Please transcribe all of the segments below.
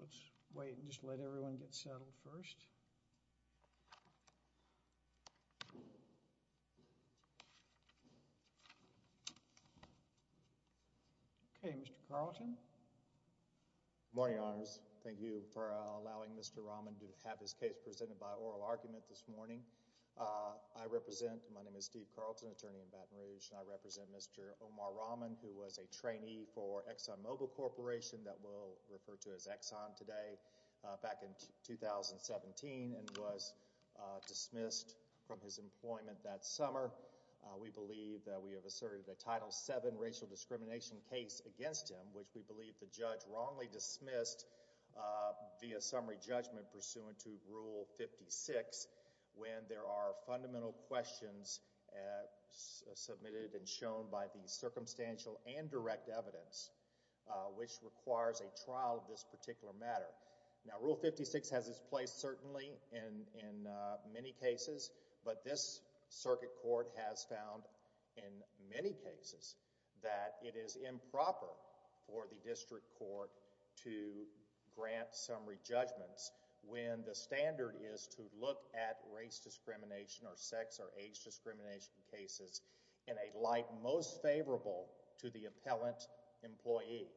Let's wait and just let everyone get settled first. Okay, Mr. Carlton. Morning, honors. Thank you for allowing Mr. Rahman to have his case presented by oral argument this morning. I represent, my name is Steve Carlton, attorney in Baton Rouge. I represent Mr. Omar Rahman, who was a trainee for Exxon Mobil Corporation, that we'll refer to as Exxon today, back in 2017 and was dismissed from his employment that summer. We believe that we have asserted the Title VII racial discrimination case against him, which we believe the judge wrongly dismissed via summary judgment pursuant to Rule 56, when there are fundamental questions submitted and shown by the circumstantial and direct evidence, which requires a trial of this particular matter. Now, Rule 56 has its place certainly in many cases, but this circuit court has found, in many cases, that it is improper for the district court to grant summary judgments when the standard is to look at race discrimination or sex or age discrimination cases in a light most favorable to the appellant employee.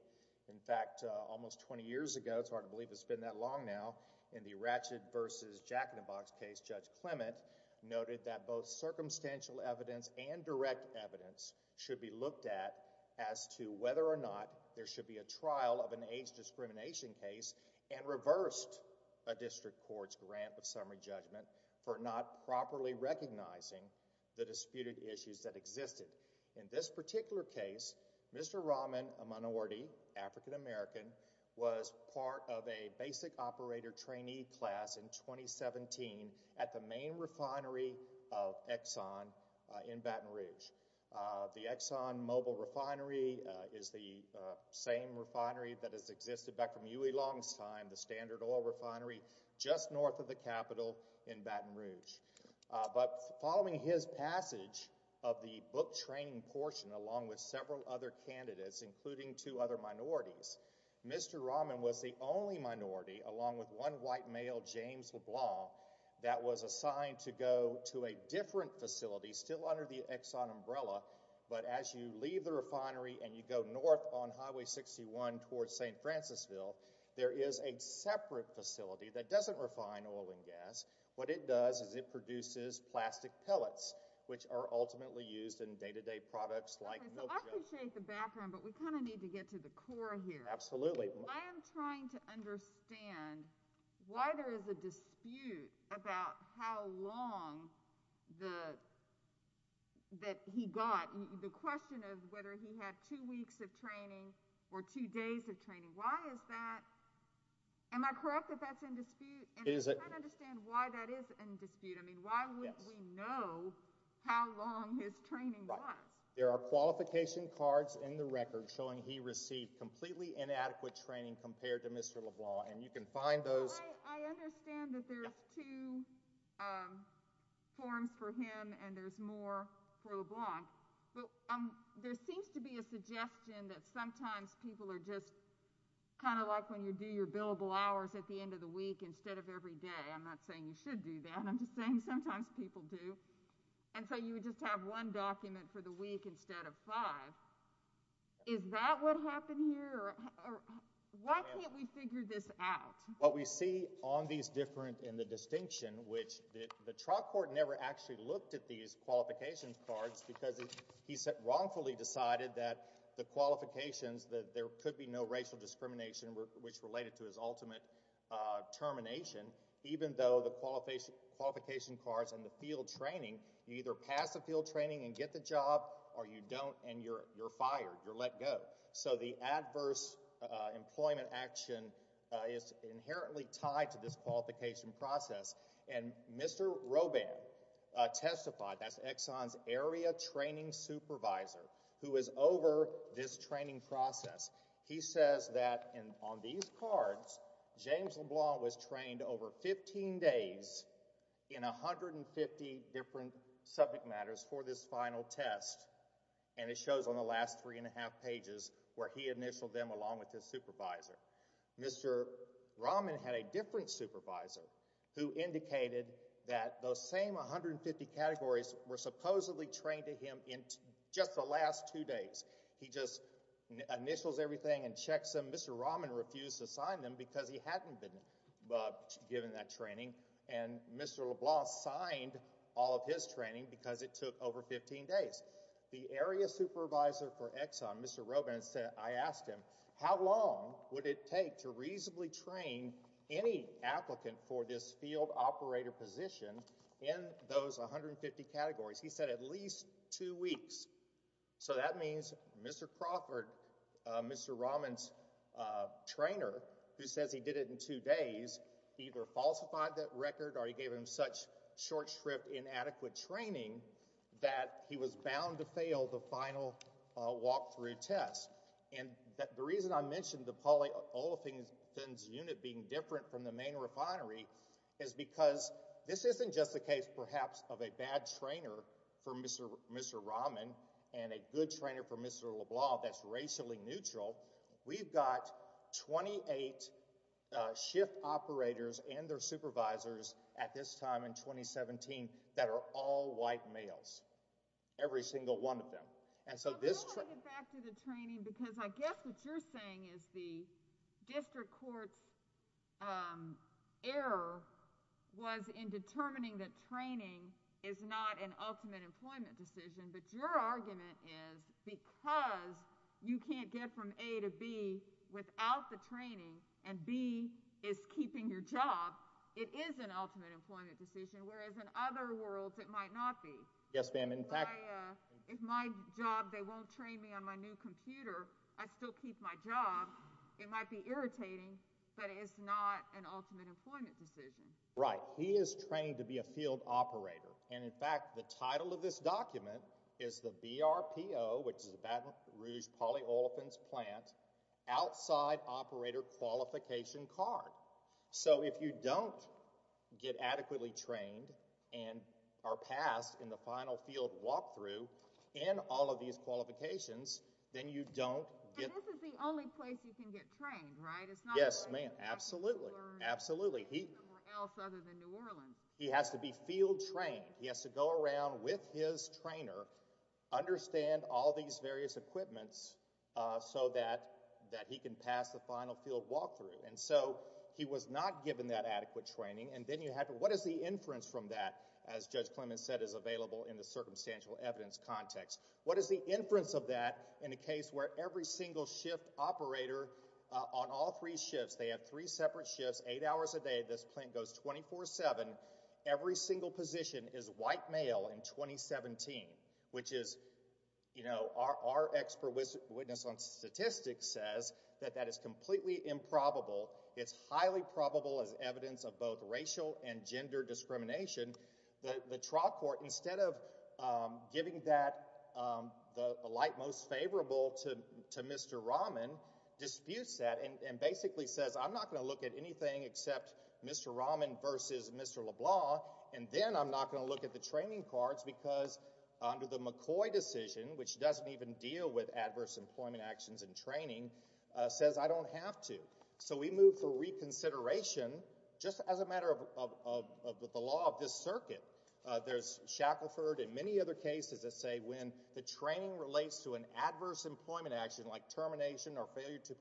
In fact, almost 20 years ago, it's hard to believe it's been that long now, in the Ratched v. Jackenbach case, Judge Clement noted that both circumstantial evidence and direct evidence should be looked at as to whether or not there should be a trial of an age discrimination case and reversed a district court's grant of summary judgment for not properly recognizing the disputed issues that existed. In this particular case, Mr. Rahman, a minority African-American, was part of a basic operator trainee class in 2017 at the main refinery of Exxon in Baton Rouge. The Exxon mobile refinery is the same refinery that has existed back from Huey Long's time, the standard oil refinery just north of the Capitol in Baton Rouge. But following his passage of the book training portion, along with several other candidates, including two other minorities, Mr. Rahman was the only minority, along with one white male, James LeBlanc, that was assigned to go to a different facility, still under the Exxon umbrella, but as you leave the refinery and you go north on Highway 61 towards St. Francisville, there is a separate facility that doesn't refine oil and gas. What it does is it produces plastic pellets, which are ultimately used in I am trying to understand why there is a dispute about how long that he got, the question of whether he had two weeks of training or two days of training. Why is that? Am I correct if that's in dispute? And I can't understand why that is in dispute. I mean, why wouldn't we know how long his training was? There are qualification cards in the record showing he received completely inadequate training compared to Mr. LeBlanc, and you can find those. Well, I understand that there's two forms for him and there's more for LeBlanc, but there seems to be a suggestion that sometimes people are just kind of like when you do your billable hours at the end of the week instead of every day. I'm not saying you should do that. I'm just saying sometimes people do. And so you just have one document for the week instead of five. Is that what happened here? Why can't we figure this out? What we see on these different in the distinction, which the trial court never actually looked at these qualifications cards because he wrongfully decided that the qualifications that there could be no racial discrimination, which related to his ultimate termination, even though the qualification cards and the field training, you either pass the field training and get the job or you don't and you're fired, you're let go. So the adverse employment action is inherently tied to this qualification process. And Mr. Roban testified, that's Exxon's area training supervisor, who is over this training process. He says that on these cards, James LeBlanc was trained over 15 days in 150 different subject matters for this final test. And it shows on the last three and a half pages where he initialed them along with his supervisor. Mr. Rahman had a different supervisor who indicated that those same 150 categories were supposedly trained to him in just the last two days. He just initials everything and checks them. Mr. Rahman refused to sign them because he and Mr. LeBlanc signed all of his training because it took over 15 days. The area supervisor for Exxon, Mr. Roban said, I asked him, how long would it take to reasonably train any applicant for this field operator position in those 150 categories? He said at least two weeks. So that means Mr. Crawford, Mr. Rahman's trainer, who says he did it in two days, either falsified that record or he gave him such short shrift inadequate training that he was bound to fail the final walkthrough test. And the reason I mentioned the polyolefins unit being different from the main refinery is because this isn't just the case, perhaps, of a bad trainer for Mr. Rahman and a good trainer for Mr. LeBlanc that's racially neutral. We've got 28 shift operators and their supervisors at this time in 2017 that are all white males, every single one of them. And so this trip back to the training, because I guess what you're saying is the district court's error was in determining that training is not an ultimate employment decision. But your argument is because you can't get from A to B without the training and B is keeping your job, it is an ultimate employment decision, whereas in other worlds, it might not be. Yes, ma'am. In fact, if my job, they won't train me on my new computer. I still keep my job. It might be irritating, but it's not an ultimate employment decision, right? He is trained to be a is the BRPO, which is the Baton Rouge Polyolefins Plant, outside operator qualification card. So if you don't get adequately trained and are passed in the final field walkthrough in all of these qualifications, then you don't get... And this is the only place you can get trained, right? It's not... Yes, ma'am. Absolutely. Absolutely. He has to be field trained. He has to go around with his trainer, understand all these various equipments so that he can pass the final field walkthrough. And so he was not given that adequate training. And then you have to... What is the inference from that, as Judge Clements said, is available in the circumstantial evidence context? What is the inference of that in a case where every single shift operator on all three shifts, they have three separate shifts, eight hours a day, this plant goes 24-7, every single position is white male in 2017, which is, you know, our expert witness on statistics says that that is completely improbable. It's highly probable as evidence of both racial and gender discrimination. The trial court, instead of giving that the light most favorable to Mr. Rahman, disputes that and basically says, I'm not going to look at anything except Mr. Rahman versus Mr. LeBlanc, and then I'm not going to look at the training cards because under the McCoy decision, which doesn't even deal with adverse employment actions and training, says I don't have to. So we move for reconsideration just as a matter of the law of this circuit. There's Shackelford and many other cases that say when the training relates to an adverse employment action like termination or failure to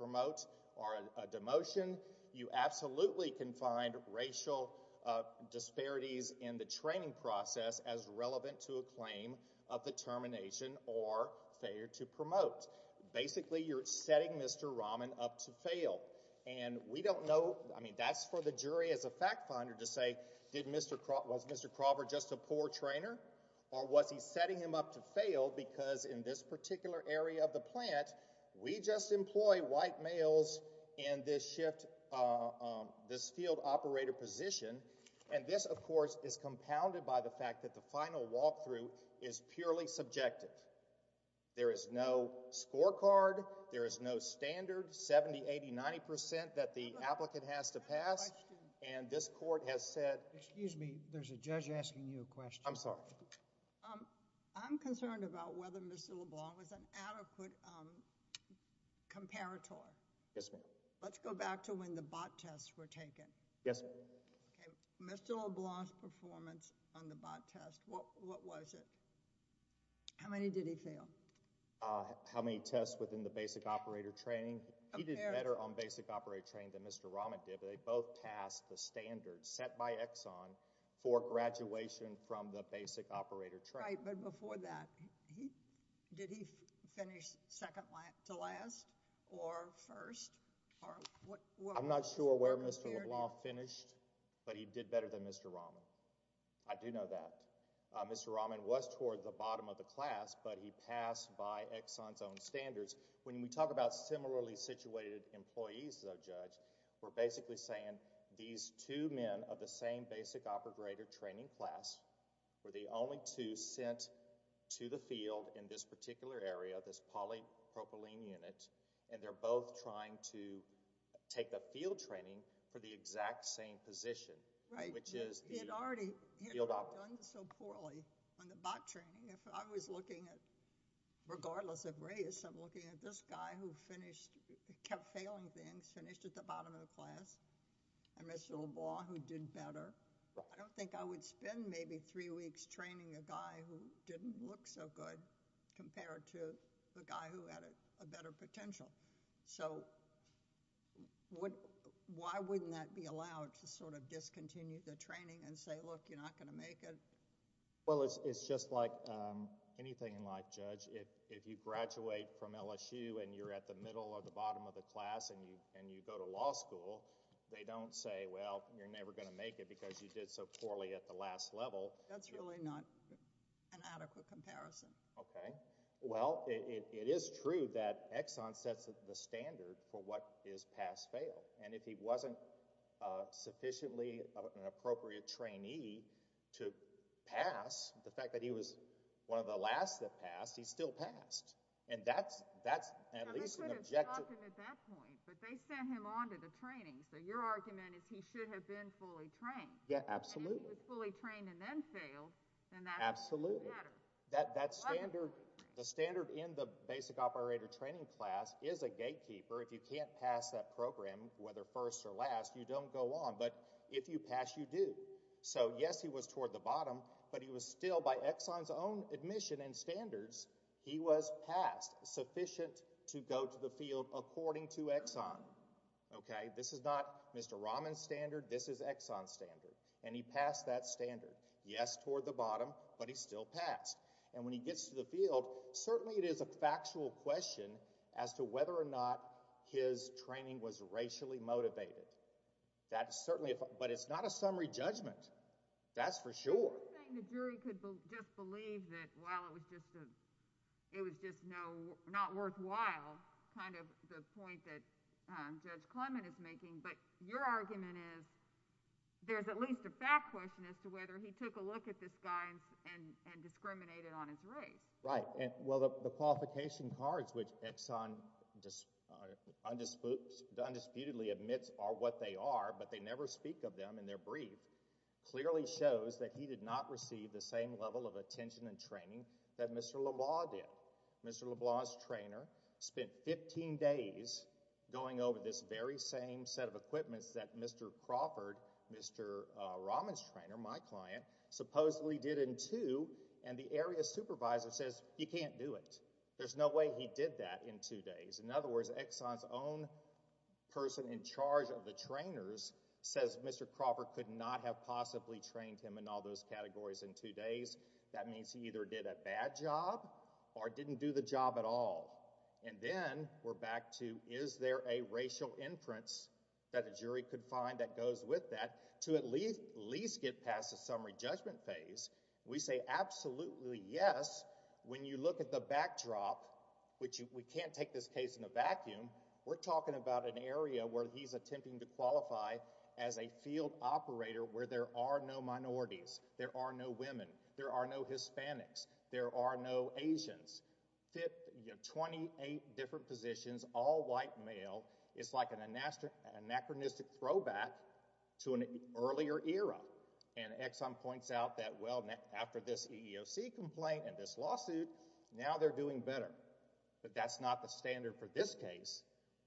promote. Basically, you're setting Mr. Rahman up to fail. And we don't know, I mean, that's for the jury as a fact finder to say, was Mr. Crawford just a poor trainer or was he setting him up to fail because in this particular area of the plant, we just employ white males in this shift, this field operator position. And this, of course, is compounded by the fact that the final walkthrough is purely subjective. There is no scorecard. There is no standard 70, 80, 90 percent that the applicant has to pass. And this court has said, excuse me, there's a judge asking you a question. I'm sorry. I'm concerned about whether Mr. LeBlanc was an adequate comparator. Yes, ma'am. Let's go back to when the bot tests were taken. Yes. Mr. LeBlanc's performance on the bot test, what was it? How many did he fail? How many tests within the basic operator training? He did better on basic operator training than Mr. Rahman did, but they both passed the standards set by Exxon for graduation from the basic operator training. Right, but before that, did he finish second to last or first? I'm not sure where Mr. LeBlanc finished, but he did better than Mr. Rahman. I do know that. Mr. Rahman was toward the bottom of the class, but he passed by Exxon's own standards. When we talk about similarly situated employees, though, Judge, we're basically saying these two men of the same basic operator training class were the only two sent to the field in this particular area, this polypropylene unit, and they're both trying to take the field training for the exact same position, which is the field operator. He had already done so poorly on the bot training. If I was looking at, regardless of race, I'm looking at this guy who finished, kept failing things, finished at the bottom of the class, and Mr. LeBlanc, who did better. I don't think I would spend maybe three weeks training a guy who didn't look so good compared to the guy who had a better potential. Why wouldn't that be allowed to sort of discontinue the training and say, look, you're not going to make it? Well, it's just like anything in life, Judge. If you graduate from LSU and you're at the middle or the bottom of the class and you go to law school, they don't say, well, you're never going to make it because you did so poorly at the last level. That's really not an adequate comparison. Okay. Well, it is true that Exxon sets the standard for what is pass-fail, and if he wasn't sufficiently an appropriate trainee to pass, the fact that he was one of the last that passed, he still passed, and that's at least an objective. But they could have stopped him at that point, but they sent him on to the training, so your argument is he should have been fully trained. Yeah, absolutely. And if he was fully trained and then failed, then that's a different matter. That standard, the standard in the basic operator training class is a gatekeeper. If you can't pass that program, whether first or last, you don't go on. But if you pass, you do. So, yes, he was toward the bottom, but he was still, by Exxon's own admission and standards, he was passed, sufficient to go to the field according to Exxon. Okay. This is not Mr. Rahman's standard. This is Exxon's standard, and he passed that standard. Yes, toward the bottom, but he still passed. And when he gets to the field, certainly it is a factual question as to whether or not his training was racially motivated. That's certainly, but it's not a summary judgment. That's for sure. You're saying the jury could just believe that while it was just a, it was just no, not worthwhile, kind of the point that Judge Clement is making, but your argument is there's at least a fact question as to whether he took a look at this guy and discriminated on his race. Right. Well, the qualification cards, which Exxon undisputedly admits are what they are, but they never speak of them in their brief, clearly shows that he did not receive the same level of attention and training that Mr. LeBlanc did. Mr. LeBlanc's trainer spent 15 days going over this very same set of equipments that Mr. Crawford, Mr. Rahman's trainer, my client, supposedly did in two. And the area supervisor says you can't do it. There's no way he did that in two days. In other words, Exxon's own person in charge of the trainers says Mr. Crawford could not have possibly trained him in all those categories in two days. That means he either did a bad job or didn't do the job at all. And then we're back to is there a racial inference that the jury could find that goes with that to at least get past the summary judgment phase? We say absolutely yes. When you look at the backdrop, which we can't take this case in a vacuum, we're talking about an area where he's attempting to qualify as a field operator where there are no minorities. There are no women. There are no Hispanics. There are no Asians. Twenty-eight different positions, all white male. It's like an anachronistic throwback to an earlier era. And Exxon points out that, well, after this EEOC complaint and this lawsuit, now they're doing better. But that's not the standard for this case.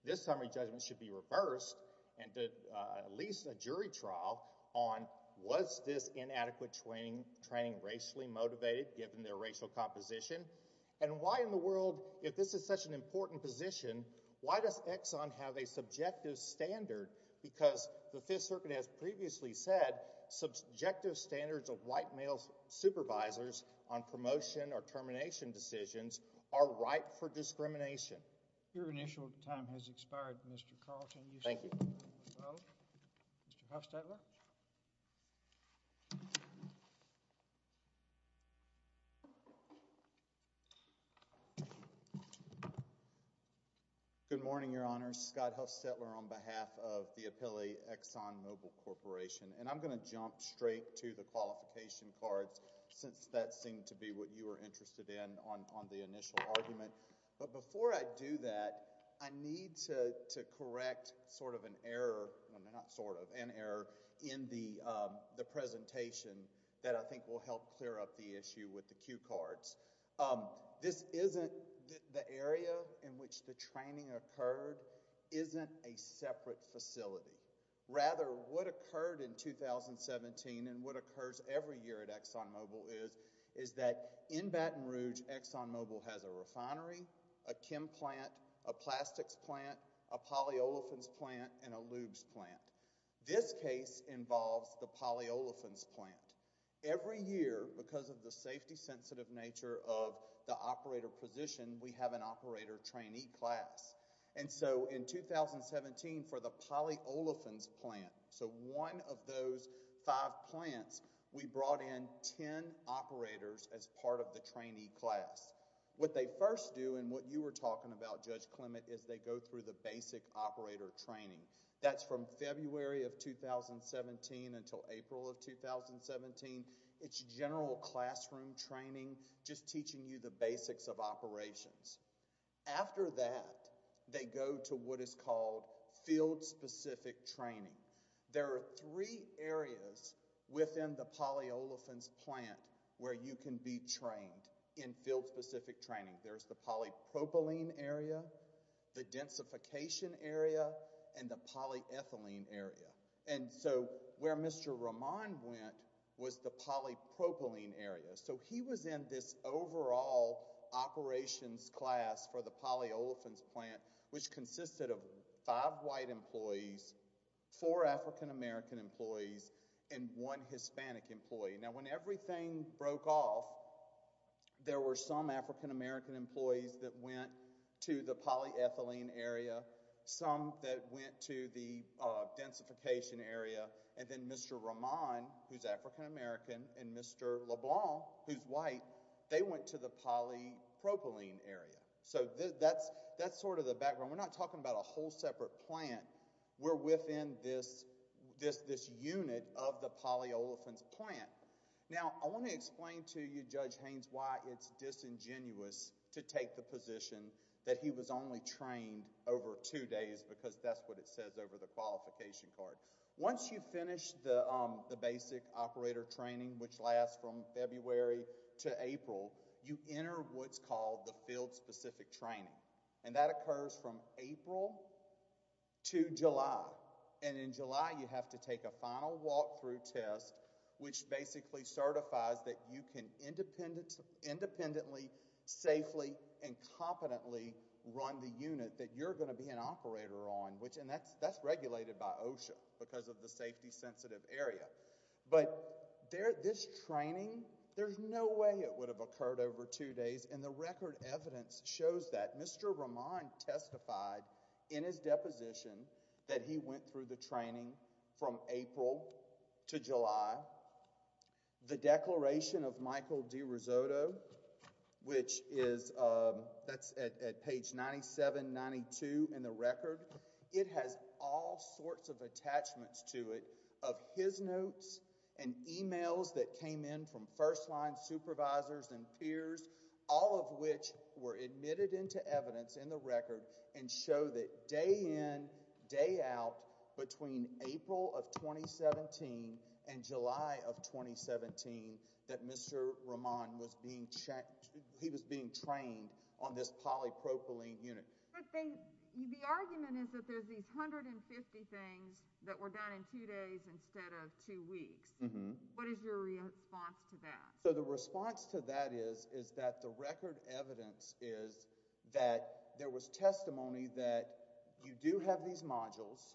This summary judgment should be reversed and at least a jury trial on was this inadequate training, racially motivated, given their racial composition. And why in the world, if this is such an important position, why does Exxon have a subjective standard? Because the Fifth Circuit has previously said subjective standards of white male supervisors on promotion or termination decisions are ripe for discrimination. Your initial time has expired, Mr. Carlson. Thank you. Good morning, Your Honors. Scott Huffstetler on behalf of the Appellee Exxon Mobil Corporation. And I'm going to jump straight to the qualification cards since that seemed to be what you were interested in on the initial argument. But before I do that, I need to correct sort of an error, not sort of, an error in the that I think will help clear up the issue with the cue cards. This isn't the area in which the training occurred isn't a separate facility. Rather, what occurred in 2017 and what occurs every year at Exxon Mobil is that in Baton Rouge, Exxon Mobil has a refinery, a chem plant, a plastics plant, a polyolefins plant, and a lubes plant. This case involves the polyolefins plant. Every year, because of the safety sensitive nature of the operator position, we have an operator trainee class. And so in 2017 for the polyolefins plant, so one of those five plants, we brought in ten operators as part of the trainee class. What they first do and what you were talking about, Judge Clement, is they go through the basic operator training. That's from February of 2017 until April of 2017. It's general classroom training, just teaching you the basics of operations. After that, they go to what is called field specific training. There are three areas within the polyolefins plant where you can be trained in field specific training. There's the polypropylene area, the densification area, and the polyethylene area. And so where Mr. Roman went was the polypropylene area. So he was in this overall operations class for the polyolefins plant, which consisted of five white employees, four African American employees, and one Hispanic employee. Now when everything broke off, there were some African American employees that went to the polyethylene area, some that went to the densification area, and then Mr. Roman, who's African American, and Mr. LeBlanc, who's white, they went to the polypropylene area. So that's sort of the background. We're not talking about a whole separate plant. We're within this unit of the polyolefins plant. Now I want to explain to you, Judge Haynes, why it's disingenuous to take the position that he was only trained over two days because that's what it says over the qualification card. Once you finish the basic operator training, which lasts from February to April, you enter what's called the field specific training. And that occurs from April to July. And in July, you have to take a final walkthrough test, which basically certifies that you can independently, safely, and competently run the unit that you're going to be an operator on, which, and that's regulated by OSHA because of the safety sensitive area. But this training, there's no way it would have occurred over two days. And the record evidence shows that. Mr. Roman testified in his deposition that he went through the training from April to July. The declaration of Michael DiRisotto, which is, that's at page 97, 92 in the record, it has all sorts of attachments to it of his notes and emails that came in from first line supervisors and peers, all of which were admitted into evidence in the record and show that day in, day out, between April of 2017 and July of 2017, that Mr. Roman was being checked. He was being trained on this polypropylene unit. The argument is that there's these hundred and fifty things that were done in two days instead of two weeks. What is your response to that? So the response to that is, is that the record evidence is that there was testimony that you do have these modules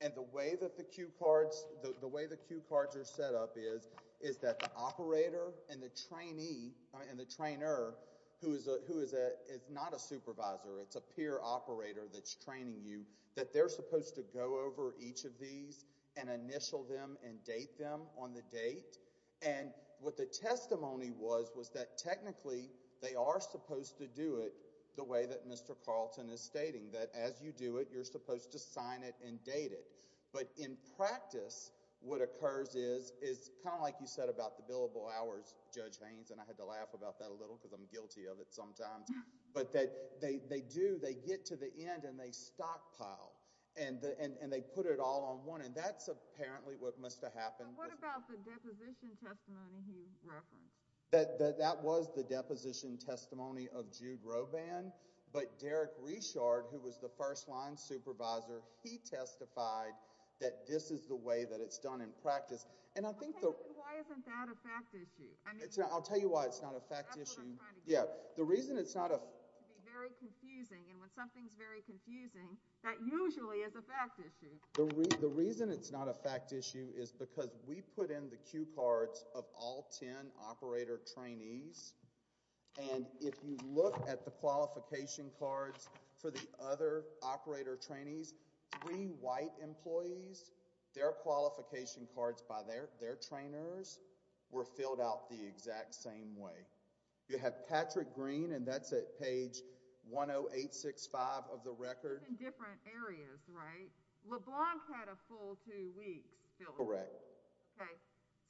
and the way that the cue cards, the way the cue cards are set up is, is that the operator and the trainee and the trainer who is a, who is a, is not a supervisor, it's a peer operator that's training you, that they're supposed to go over each of these and initial them and date them on the date. And what the testimony was, was that technically they are supposed to do it the way that Mr. Carlton is stating, that as you do it, you're supposed to sign it and date it. But in practice, what occurs is, is kind of like you said about the billable hours, Judge Haynes, and I had to laugh about that a little because I'm guilty of it sometimes, but that they, they do, they get to the end and they stockpile and the, and, and they put it all on one. And that's apparently what must have happened. What about the deposition testimony he referenced? That, that, that was the deposition testimony of Jude Roban, but Derek Rechard, who was the first line supervisor, he testified that this is the way that it's done in practice. And I think the... Why isn't that a fact issue? I mean... I'll tell you why it's not a fact issue. Yeah. The reason it's not a... Very confusing. And when something's very confusing, that usually is a fact issue. The reason it's not a fact issue is because we put in the cue cards of all 10 operator trainees. And if you look at the qualification cards for the other operator trainees, three white employees, their qualification cards by their, their trainers were filled out the exact same way. You have Patrick Green, and that's at page 10865 of the record. In different areas, right? LeBlanc had a full two weeks. Correct. Okay.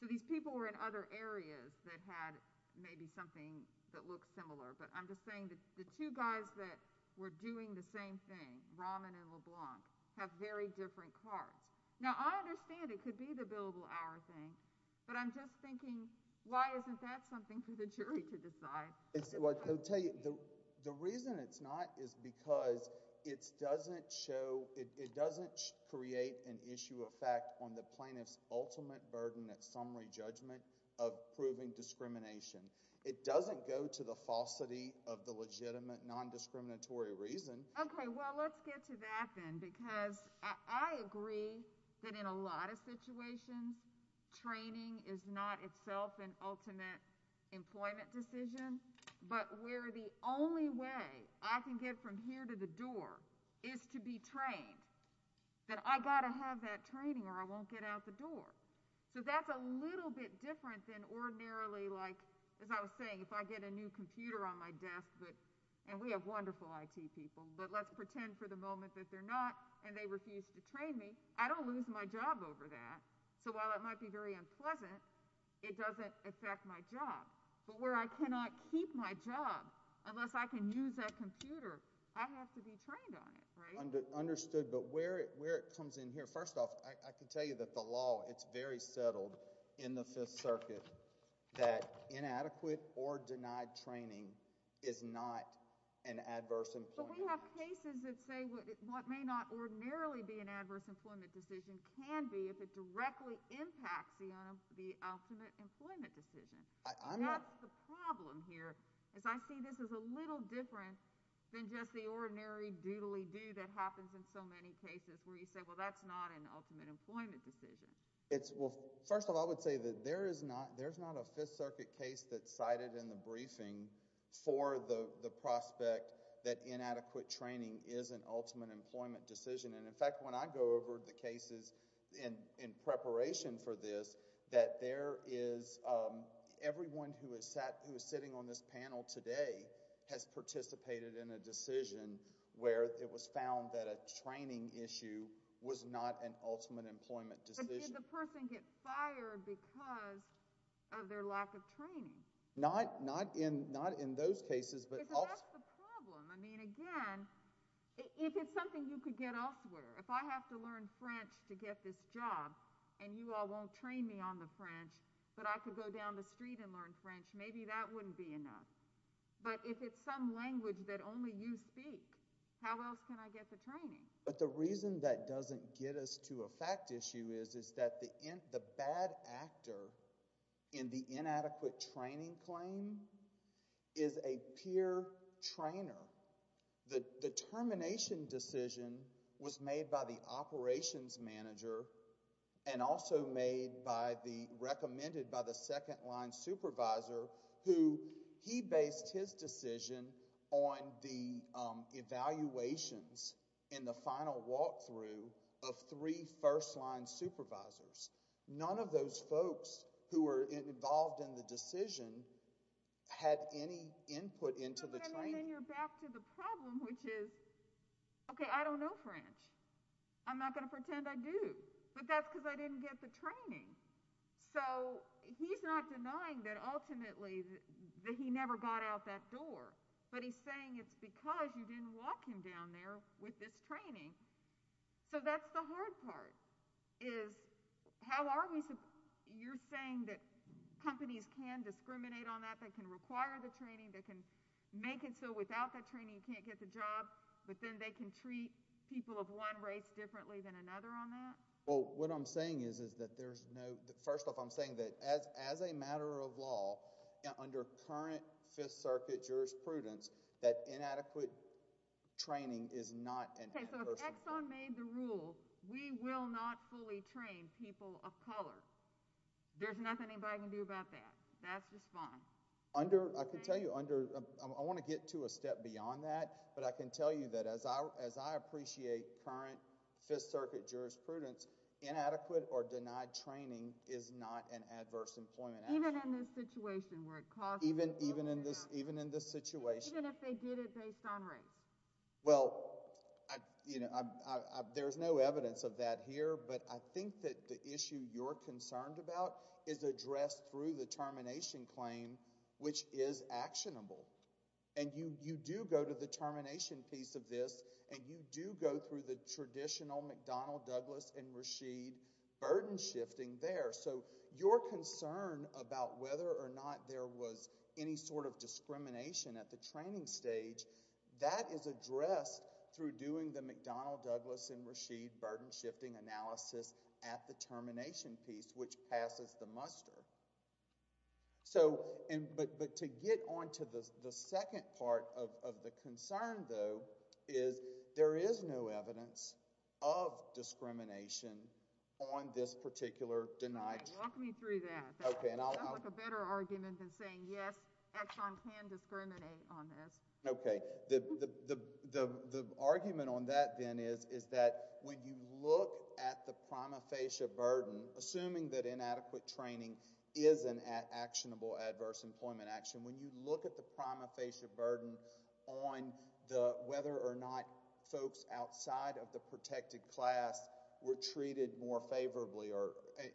So these people were in other areas that had maybe something that looks similar. But I'm just saying that the two guys that were doing the same thing, Roman and LeBlanc, have very different cards. Now, I understand it could be the billable hour thing, but I'm just thinking, why isn't that something for the jury to decide? I'll tell you, the reason it's not is because it doesn't show, it doesn't create an issue of fact on the plaintiff's ultimate burden at summary judgment of proving discrimination. It doesn't go to the falsity of the legitimate non-discriminatory reason. Okay, well, let's get to that then, because I agree that in a lot of situations, training is not itself an ultimate employment decision. But where the only way I can get from here to the door is to be trained, then I got to have that training or I won't get out the door. So that's a little bit different than ordinarily, like, as I was saying, if I get a new computer on my desk, but, and we have wonderful IT people, but let's pretend for the moment that they're not, and they refuse to train me, I don't lose my job over that. So while it might be very unpleasant, it doesn't affect my job. But where I cannot keep my job unless I can use that computer, I have to be trained on it, right? Understood, but where it comes in here, first off, I can tell you that the law, it's very settled in the Fifth Circuit that inadequate or denied training is not an adverse employment. But we have cases that say what may not ordinarily be an adverse employment decision can be if it directly impacts the ultimate employment decision. That's the problem here, is I see this as a little different than just the ordinary doodly-doo that happens in so many cases where you say, well, that's not an ultimate employment decision. It's, well, first of all, I would say that there is not, there's not a Fifth Circuit case that's cited in the briefing for the prospect that inadequate training is an ultimate employment decision. And in fact, when I go over the cases in preparation for this, that there is, everyone who has sat, who is sitting on this panel today has participated in a decision where it was found that a training issue was not an ultimate employment decision. But did the person get fired because of their lack of training? Not, not in, not in those cases. But that's the problem. I mean, again, if it's something you could get elsewhere, if I have to learn French to get this job and you all won't train me on the French, but I could go down the street and learn French, maybe that wouldn't be enough. But if it's some language that only you speak, how else can I get the training? But the reason that doesn't get us to a fact issue is, is that the bad actor in the trainer, the termination decision was made by the operations manager and also made by the, recommended by the second line supervisor who, he based his decision on the evaluations in the final walkthrough of three first line supervisors. None of those folks who were involved in the decision had any input into the training. And then you're back to the problem, which is, okay, I don't know French. I'm not going to pretend I do, but that's because I didn't get the training. So he's not denying that ultimately that he never got out that door, but he's saying it's because you didn't walk him down there with this training. So that's the hard part, is how are we, you're saying that companies can discriminate on that, they can require the training, they can make it so without that training, you can't get the job, but then they can treat people of one race differently than another on that? Well, what I'm saying is, is that there's no, first off, I'm saying that as, as a matter of law, under current Fifth Circuit jurisprudence, that inadequate training is not an adverse. Okay, so if Exxon made the rule, we will not fully train people of color. There's nothing anybody can do about that. That's just fine. Under, I can tell you under, I want to get to a step beyond that, but I can tell you that as I, as I appreciate current Fifth Circuit jurisprudence, inadequate or denied training is not an adverse employment action. Even in this situation where it costs. Even, even in this, even in this situation. Even if they did it based on race. Well, I, you know, I, I, there's no evidence of that here, but I think that the issue you're concerned about is addressed through the termination claim, which is actionable. And you, you do go to the termination piece of this, and you do go through the traditional McDonnell, Douglas, and Rasheed burden shifting there. So your concern about whether or not there was any sort of discrimination at the training stage, that is addressed through doing the McDonnell, Douglas, and Rasheed burden shifting analysis at the termination piece, which passes the muster. So, and, but, but to get onto the, the second part of, of the concern though is there is no evidence of discrimination on this particular denied. Walk me through that. Okay, and I'll, I'll. I'll make a better argument than saying yes, Exxon can discriminate on this. Okay, the, the, the, the, the argument on that then is, is that when you look at the prima facie burden, assuming that inadequate training is an actionable adverse employment action, when you look at the prima facie burden on the, whether or not folks outside of the protected class were treated more favorably or,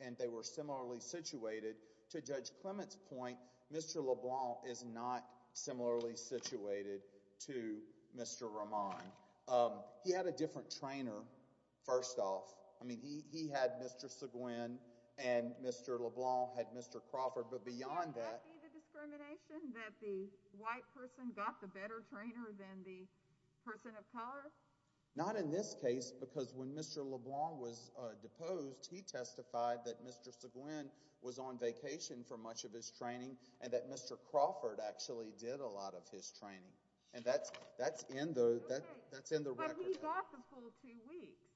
and they were similarly situated to Judge Clement's point, Mr. LeBlanc is not similarly situated to Mr. Ramon. He had a different trainer, first off. I mean, he, he had Mr. Seguin and Mr. LeBlanc had Mr. Crawford, but beyond that. But wouldn't that be the discrimination that the white person got the better trainer than the person of color? Not in this case, because when Mr. LeBlanc was deposed, he testified that Mr. Seguin was on vacation for much of his training and that Mr. Crawford actually did a lot of his training. And that's, that's in the, that's in the record. But he got the full two weeks.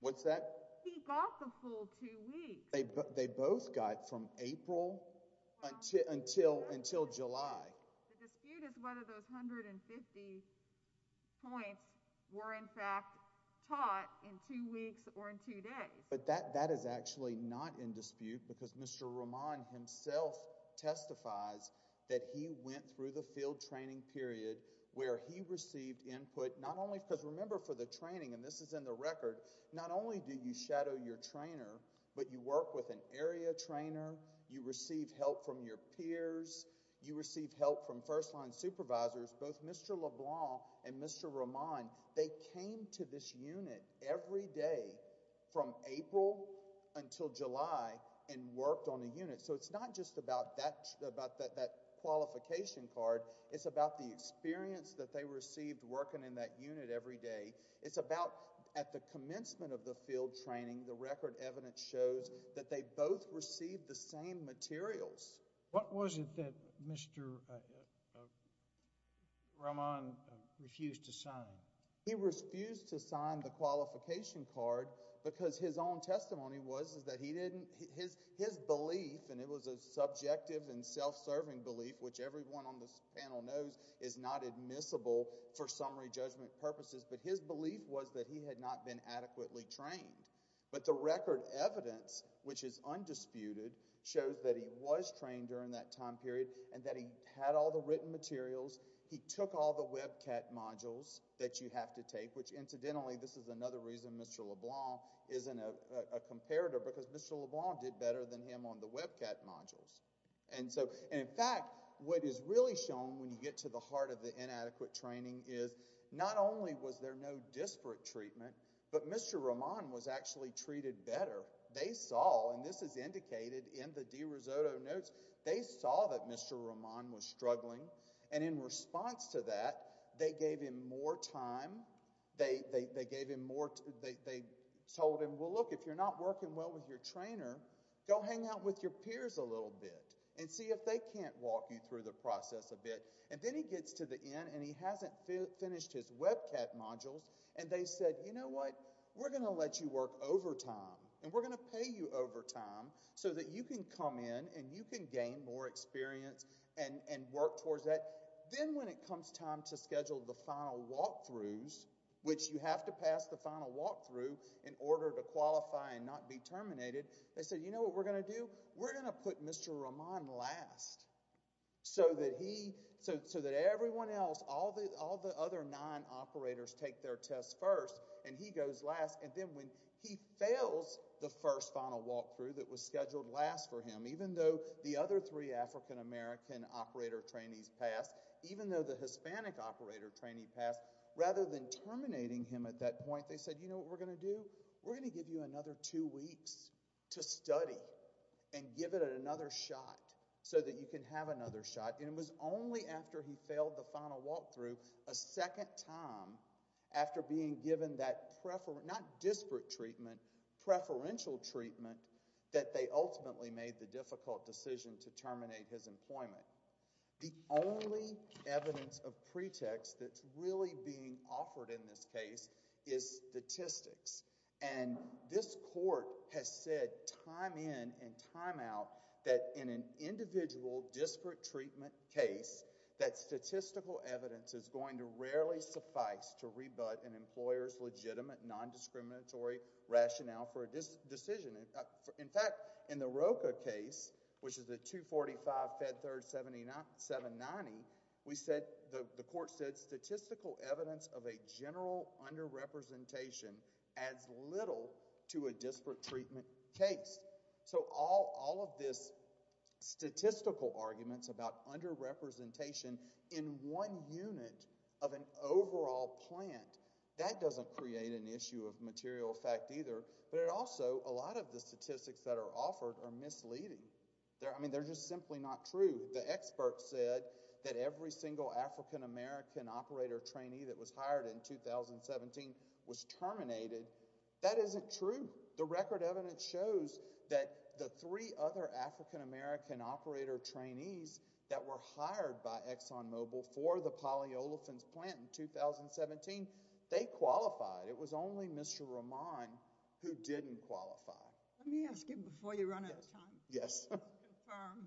What's that? He got the full two weeks. They, they both got from April until, until, until July. The dispute is whether those 150 points were in fact taught in two weeks or in two days. But that, that is actually not in dispute because Mr. Ramon himself testifies that he went through the field training period where he received input, not only because remember for the training, and this is in the record, not only do you shadow your trainer, but you work with an area trainer. You receive help from your peers. You receive help from first line supervisors, both Mr. LeBlanc and Mr. Ramon. They came to this unit every day from April until July and worked on the unit. So it's not just about that, about that, that qualification card. It's about the experience that they received working in that unit every day. It's about at the commencement of the field training, the record evidence shows that they both received the same materials. What was it that Mr. Ramon refused to sign? He refused to sign the qualification card because his own testimony was that he didn't, his, his belief, and it was a subjective and self-serving belief, which everyone on this panel knows is not admissible for summary judgment purposes, but his belief was that he had not been adequately trained. But the record evidence, which is undisputed, shows that he was trained during that time period and that he had all the written materials. He took all the WebCat modules that you have to take, which incidentally, this is another reason Mr. LeBlanc isn't a, a comparator because Mr. LeBlanc did better than him on the WebCat modules. And so, and in fact, what is really shown when you get to the heart of the inadequate training is not only was there no disparate treatment, but Mr. Ramon was actually treated better. They saw, and this is indicated in the DeRisotto notes, they saw that Mr. Ramon was struggling and in response to that, they gave him more time. They, they, they gave him more, they, they told him, well, look, if you're not working well with your trainer, go hang out with your peers a little bit and see if they can't walk you through the process a bit. And then he gets to the end and he hasn't finished his WebCat modules and they said, you know what, we're going to let you work overtime and we're going to pay you overtime so that you can come in and you can gain more experience and, and work towards that. Then when it comes time to schedule the final walkthroughs, which you have to pass the final walkthrough in order to qualify and not be terminated, they said, you know what we're going to do? We're going to put Mr. Ramon last so that he, so, so that everyone else, all the, all the other nine operators take their tests first and he goes last. And then when he fails the first final walkthrough that was scheduled last for him, even though the other three African American operator trainees passed, even though the Hispanic operator trainee passed, rather than terminating him at that point, they said, you know what we're going to do? We're going to give you another two weeks to study and give it another shot so that you can have another shot. And it was only after he failed the final walkthrough a second time after being given that prefer, not disparate treatment, preferential treatment that they ultimately made the difficult decision to terminate his employment. The only evidence of pretext that's really being offered in this case is statistics. And this court has said time in and time out that in an individual disparate treatment case that statistical evidence is going to rarely suffice to rebut an employer's legitimate non-discriminatory rationale for a decision. In fact, in the Roka case, which is the 245 Fed Third 790, we said, the court said statistical evidence of a general underrepresentation adds little to a disparate treatment case. So all of this statistical arguments about underrepresentation in one unit of an overall plant, that doesn't create an issue of material fact either. But it also, a lot of the statistics that are offered are misleading. I mean, they're just simply not true. The expert said that every single African American operator trainee that was hired in 2017 was terminated. That isn't true. The record evidence shows that the three other African American operator trainees that were hired by ExxonMobil for the polyolefins plant in 2017, they qualified. It was only Mr. Roman who didn't qualify. Let me ask you before you run out of time. Yes. Confirm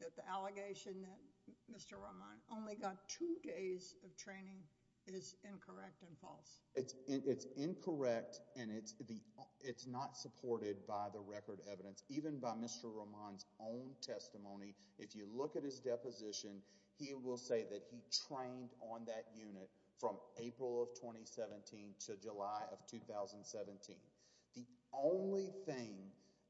that the allegation that Mr. Roman only got two days of training is incorrect and false. It's incorrect and it's not supported by the record evidence. Even by Mr. Roman's own testimony, if you look at his deposition, he will say that he trained on that unit from April of 2017 to July of 2017. The only thing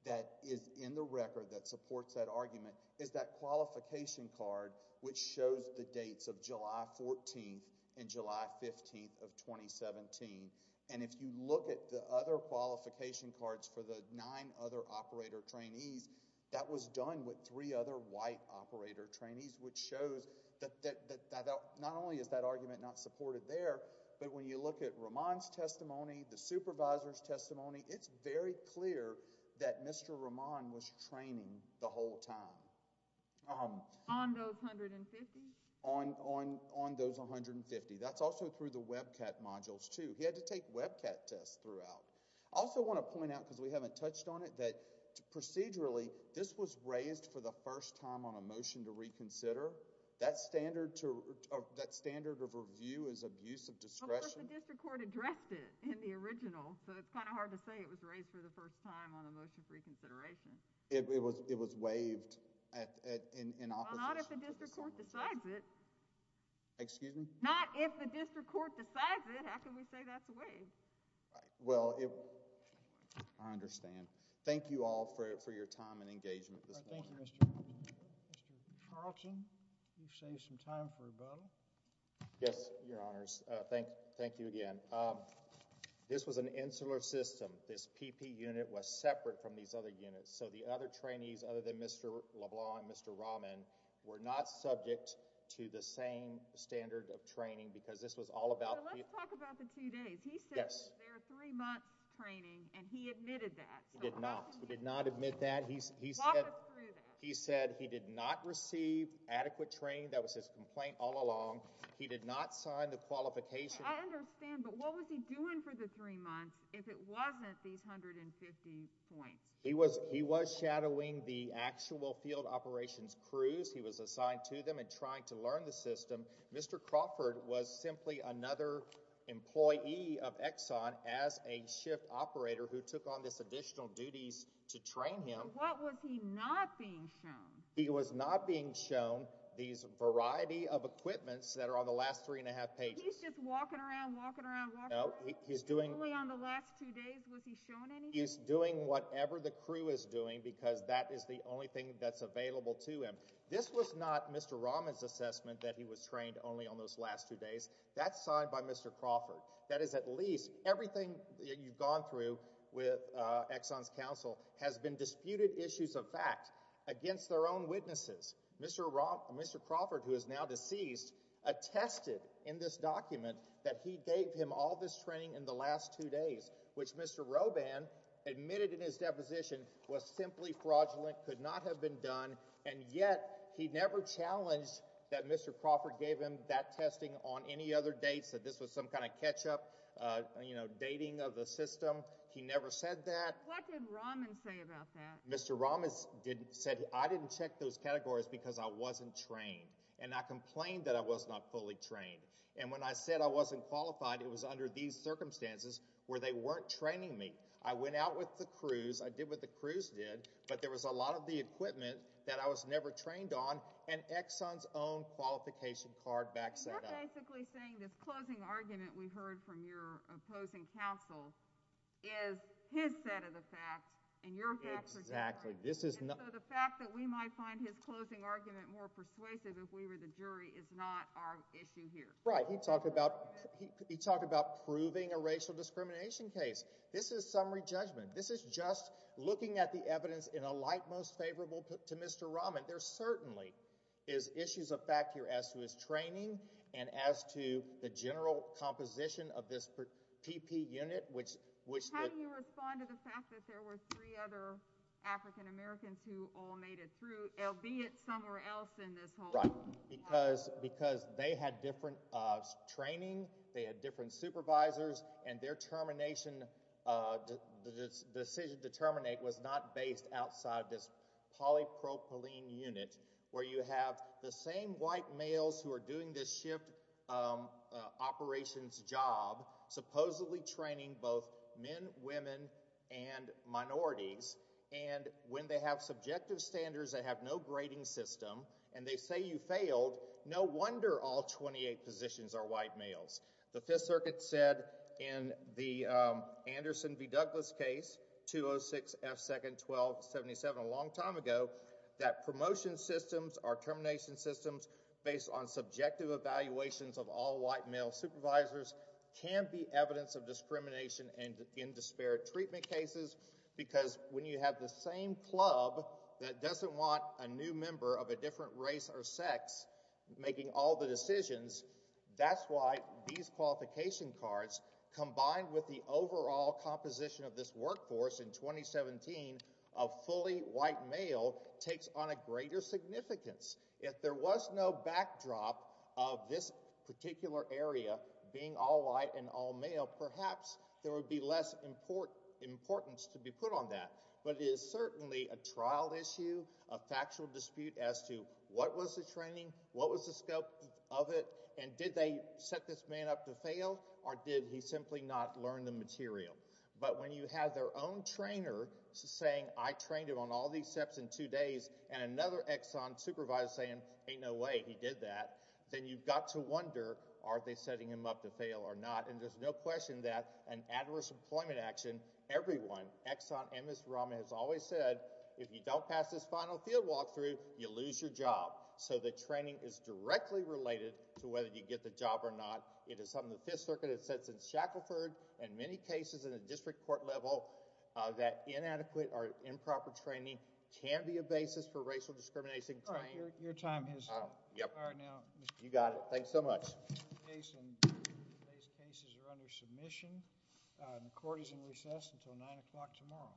that is in the record that supports that argument is that qualification card which shows the dates of July 14th and July 15th of 2017. And if you look at the other qualification cards for the nine other operator trainees, that was done with three other white operator trainees, which shows that not only is that argument not supported there, but when you look at Roman's testimony, the supervisor's testimony, it's very clear that Mr. Roman was training the whole time. On those 150? On those 150. That's also through the WebCat modules, too. He had to take WebCat tests throughout. I also want to point out, because we haven't touched on it, that procedurally, this was raised for the first time on a motion to reconsider. That standard of review is abuse of discretion. Well, not if the district court addressed it in the original, so it's kind of hard to say it was raised for the first time on a motion for reconsideration. It was waived in office. Well, not if the district court decides it. Excuse me? Not if the district court decides it. How can we say that's waived? Well, I understand. Thank you all for your time and engagement this morning. Thank you, Mr. Carlson. You've saved some time for rebuttal. Yes, Your Honors. Thank you again. This was an insular system. This PP unit was separate from these other units, so the other trainees, other than Mr. LeBlanc and Mr. Rahman, were not subject to the same standard of training, because this was all about... Let's talk about the two days. He said there are three months training, and he admitted that. He did not. He did not admit that. He said he did not receive adequate training. That was his complaint all along. He did not sign the qualification. I understand, but what was he doing for the three months if it wasn't these 150 points? He was shadowing the actual field operations crews. He was assigned to them and trying to learn the system. Mr. Crawford was simply another employee of Exxon as a shift operator who took on this additional duties to train him. What was he not being shown? He was not being shown these variety of equipments that are on the last three and a half pages. He's just walking around, walking around, walking around? No, he's doing... Only on the last two days was he shown anything? He's doing whatever the crew is doing, because that is the only thing that's available to him. This was not Mr. Rahman's assessment that he was trained only on those last two days. That's signed by Mr. Crawford. That is at least... Everything you've gone through with Exxon's counsel has been disputed issues of fact against their own witnesses. Mr. Crawford, who is now deceased, attested in this document that he gave him all this training in the last two days, which Mr. Roban admitted in his deposition was simply fraudulent, could not have been done, and yet he never challenged that Mr. Crawford gave him that testing on any other dates, that this was some kind of catch-up, dating of the system. He never said that. What did Rahman say about that? Mr. Rahman said, I didn't check those categories because I wasn't trained, and I complained that I was not fully trained, and when I said I wasn't qualified, it was under these circumstances where they weren't training me. I went out with the crews. I did what the crews did, but there was a lot of the equipment that I was never trained on, and Exxon's own qualification card backs that up. You're basically saying this closing argument we heard from your opposing counsel is his of the fact, and your facts are different, and so the fact that we might find his closing argument more persuasive if we were the jury is not our issue here. Right. He talked about proving a racial discrimination case. This is summary judgment. This is just looking at the evidence in a light most favorable to Mr. Rahman. There certainly is issues of fact here as to his training and as to the general composition of this PP unit, which— How do you respond to the fact that there were three other African Americans who all made it through, albeit somewhere else in this whole— Right, because they had different training. They had different supervisors, and their decision to terminate was not based outside this polypropylene unit where you have the same white males who are doing this shift operations job, supposedly training both men, women, and minorities, and when they have subjective standards, they have no grading system, and they say you failed, no wonder all 28 positions are white males. The Fifth Circuit said in the Anderson v. Douglas case, 206 F. 2nd. 1277, a long time ago, that promotion systems are termination systems based on subjective evaluations of all white male supervisors can be evidence of discrimination in disparate treatment cases because when you have the same club that doesn't want a new member of a different race or sex making all the decisions, that's why these qualification cards, combined with the overall composition of this workforce in 2017 of fully white male, takes on a greater significance. If there was no backdrop of this particular area being all white and all male, perhaps there would be less importance to be put on that. But it is certainly a trial issue, a factual dispute as to what was the training, what was the scope of it, and did they set this man up to fail, or did he simply not learn the material? But when you have their own trainer saying I trained him on all these steps in two days, and another Exxon supervisor saying ain't no way he did that, then you've got to wonder are they setting him up to fail or not? And there's no question that an adverse employment action, everyone, Exxon and Ms. Rahman has always said, if you don't pass this final field walkthrough, you lose your job. So the training is directly related to whether you get the job or not. It is something the Fifth Circuit has said since Shackelford and many cases in the district court level that inadequate or improper training can be a basis for racial discrimination. All right, your time is up. Yep. All right now. You got it. Thanks so much. These cases are under submission. The court is in recess until 9 o'clock tomorrow.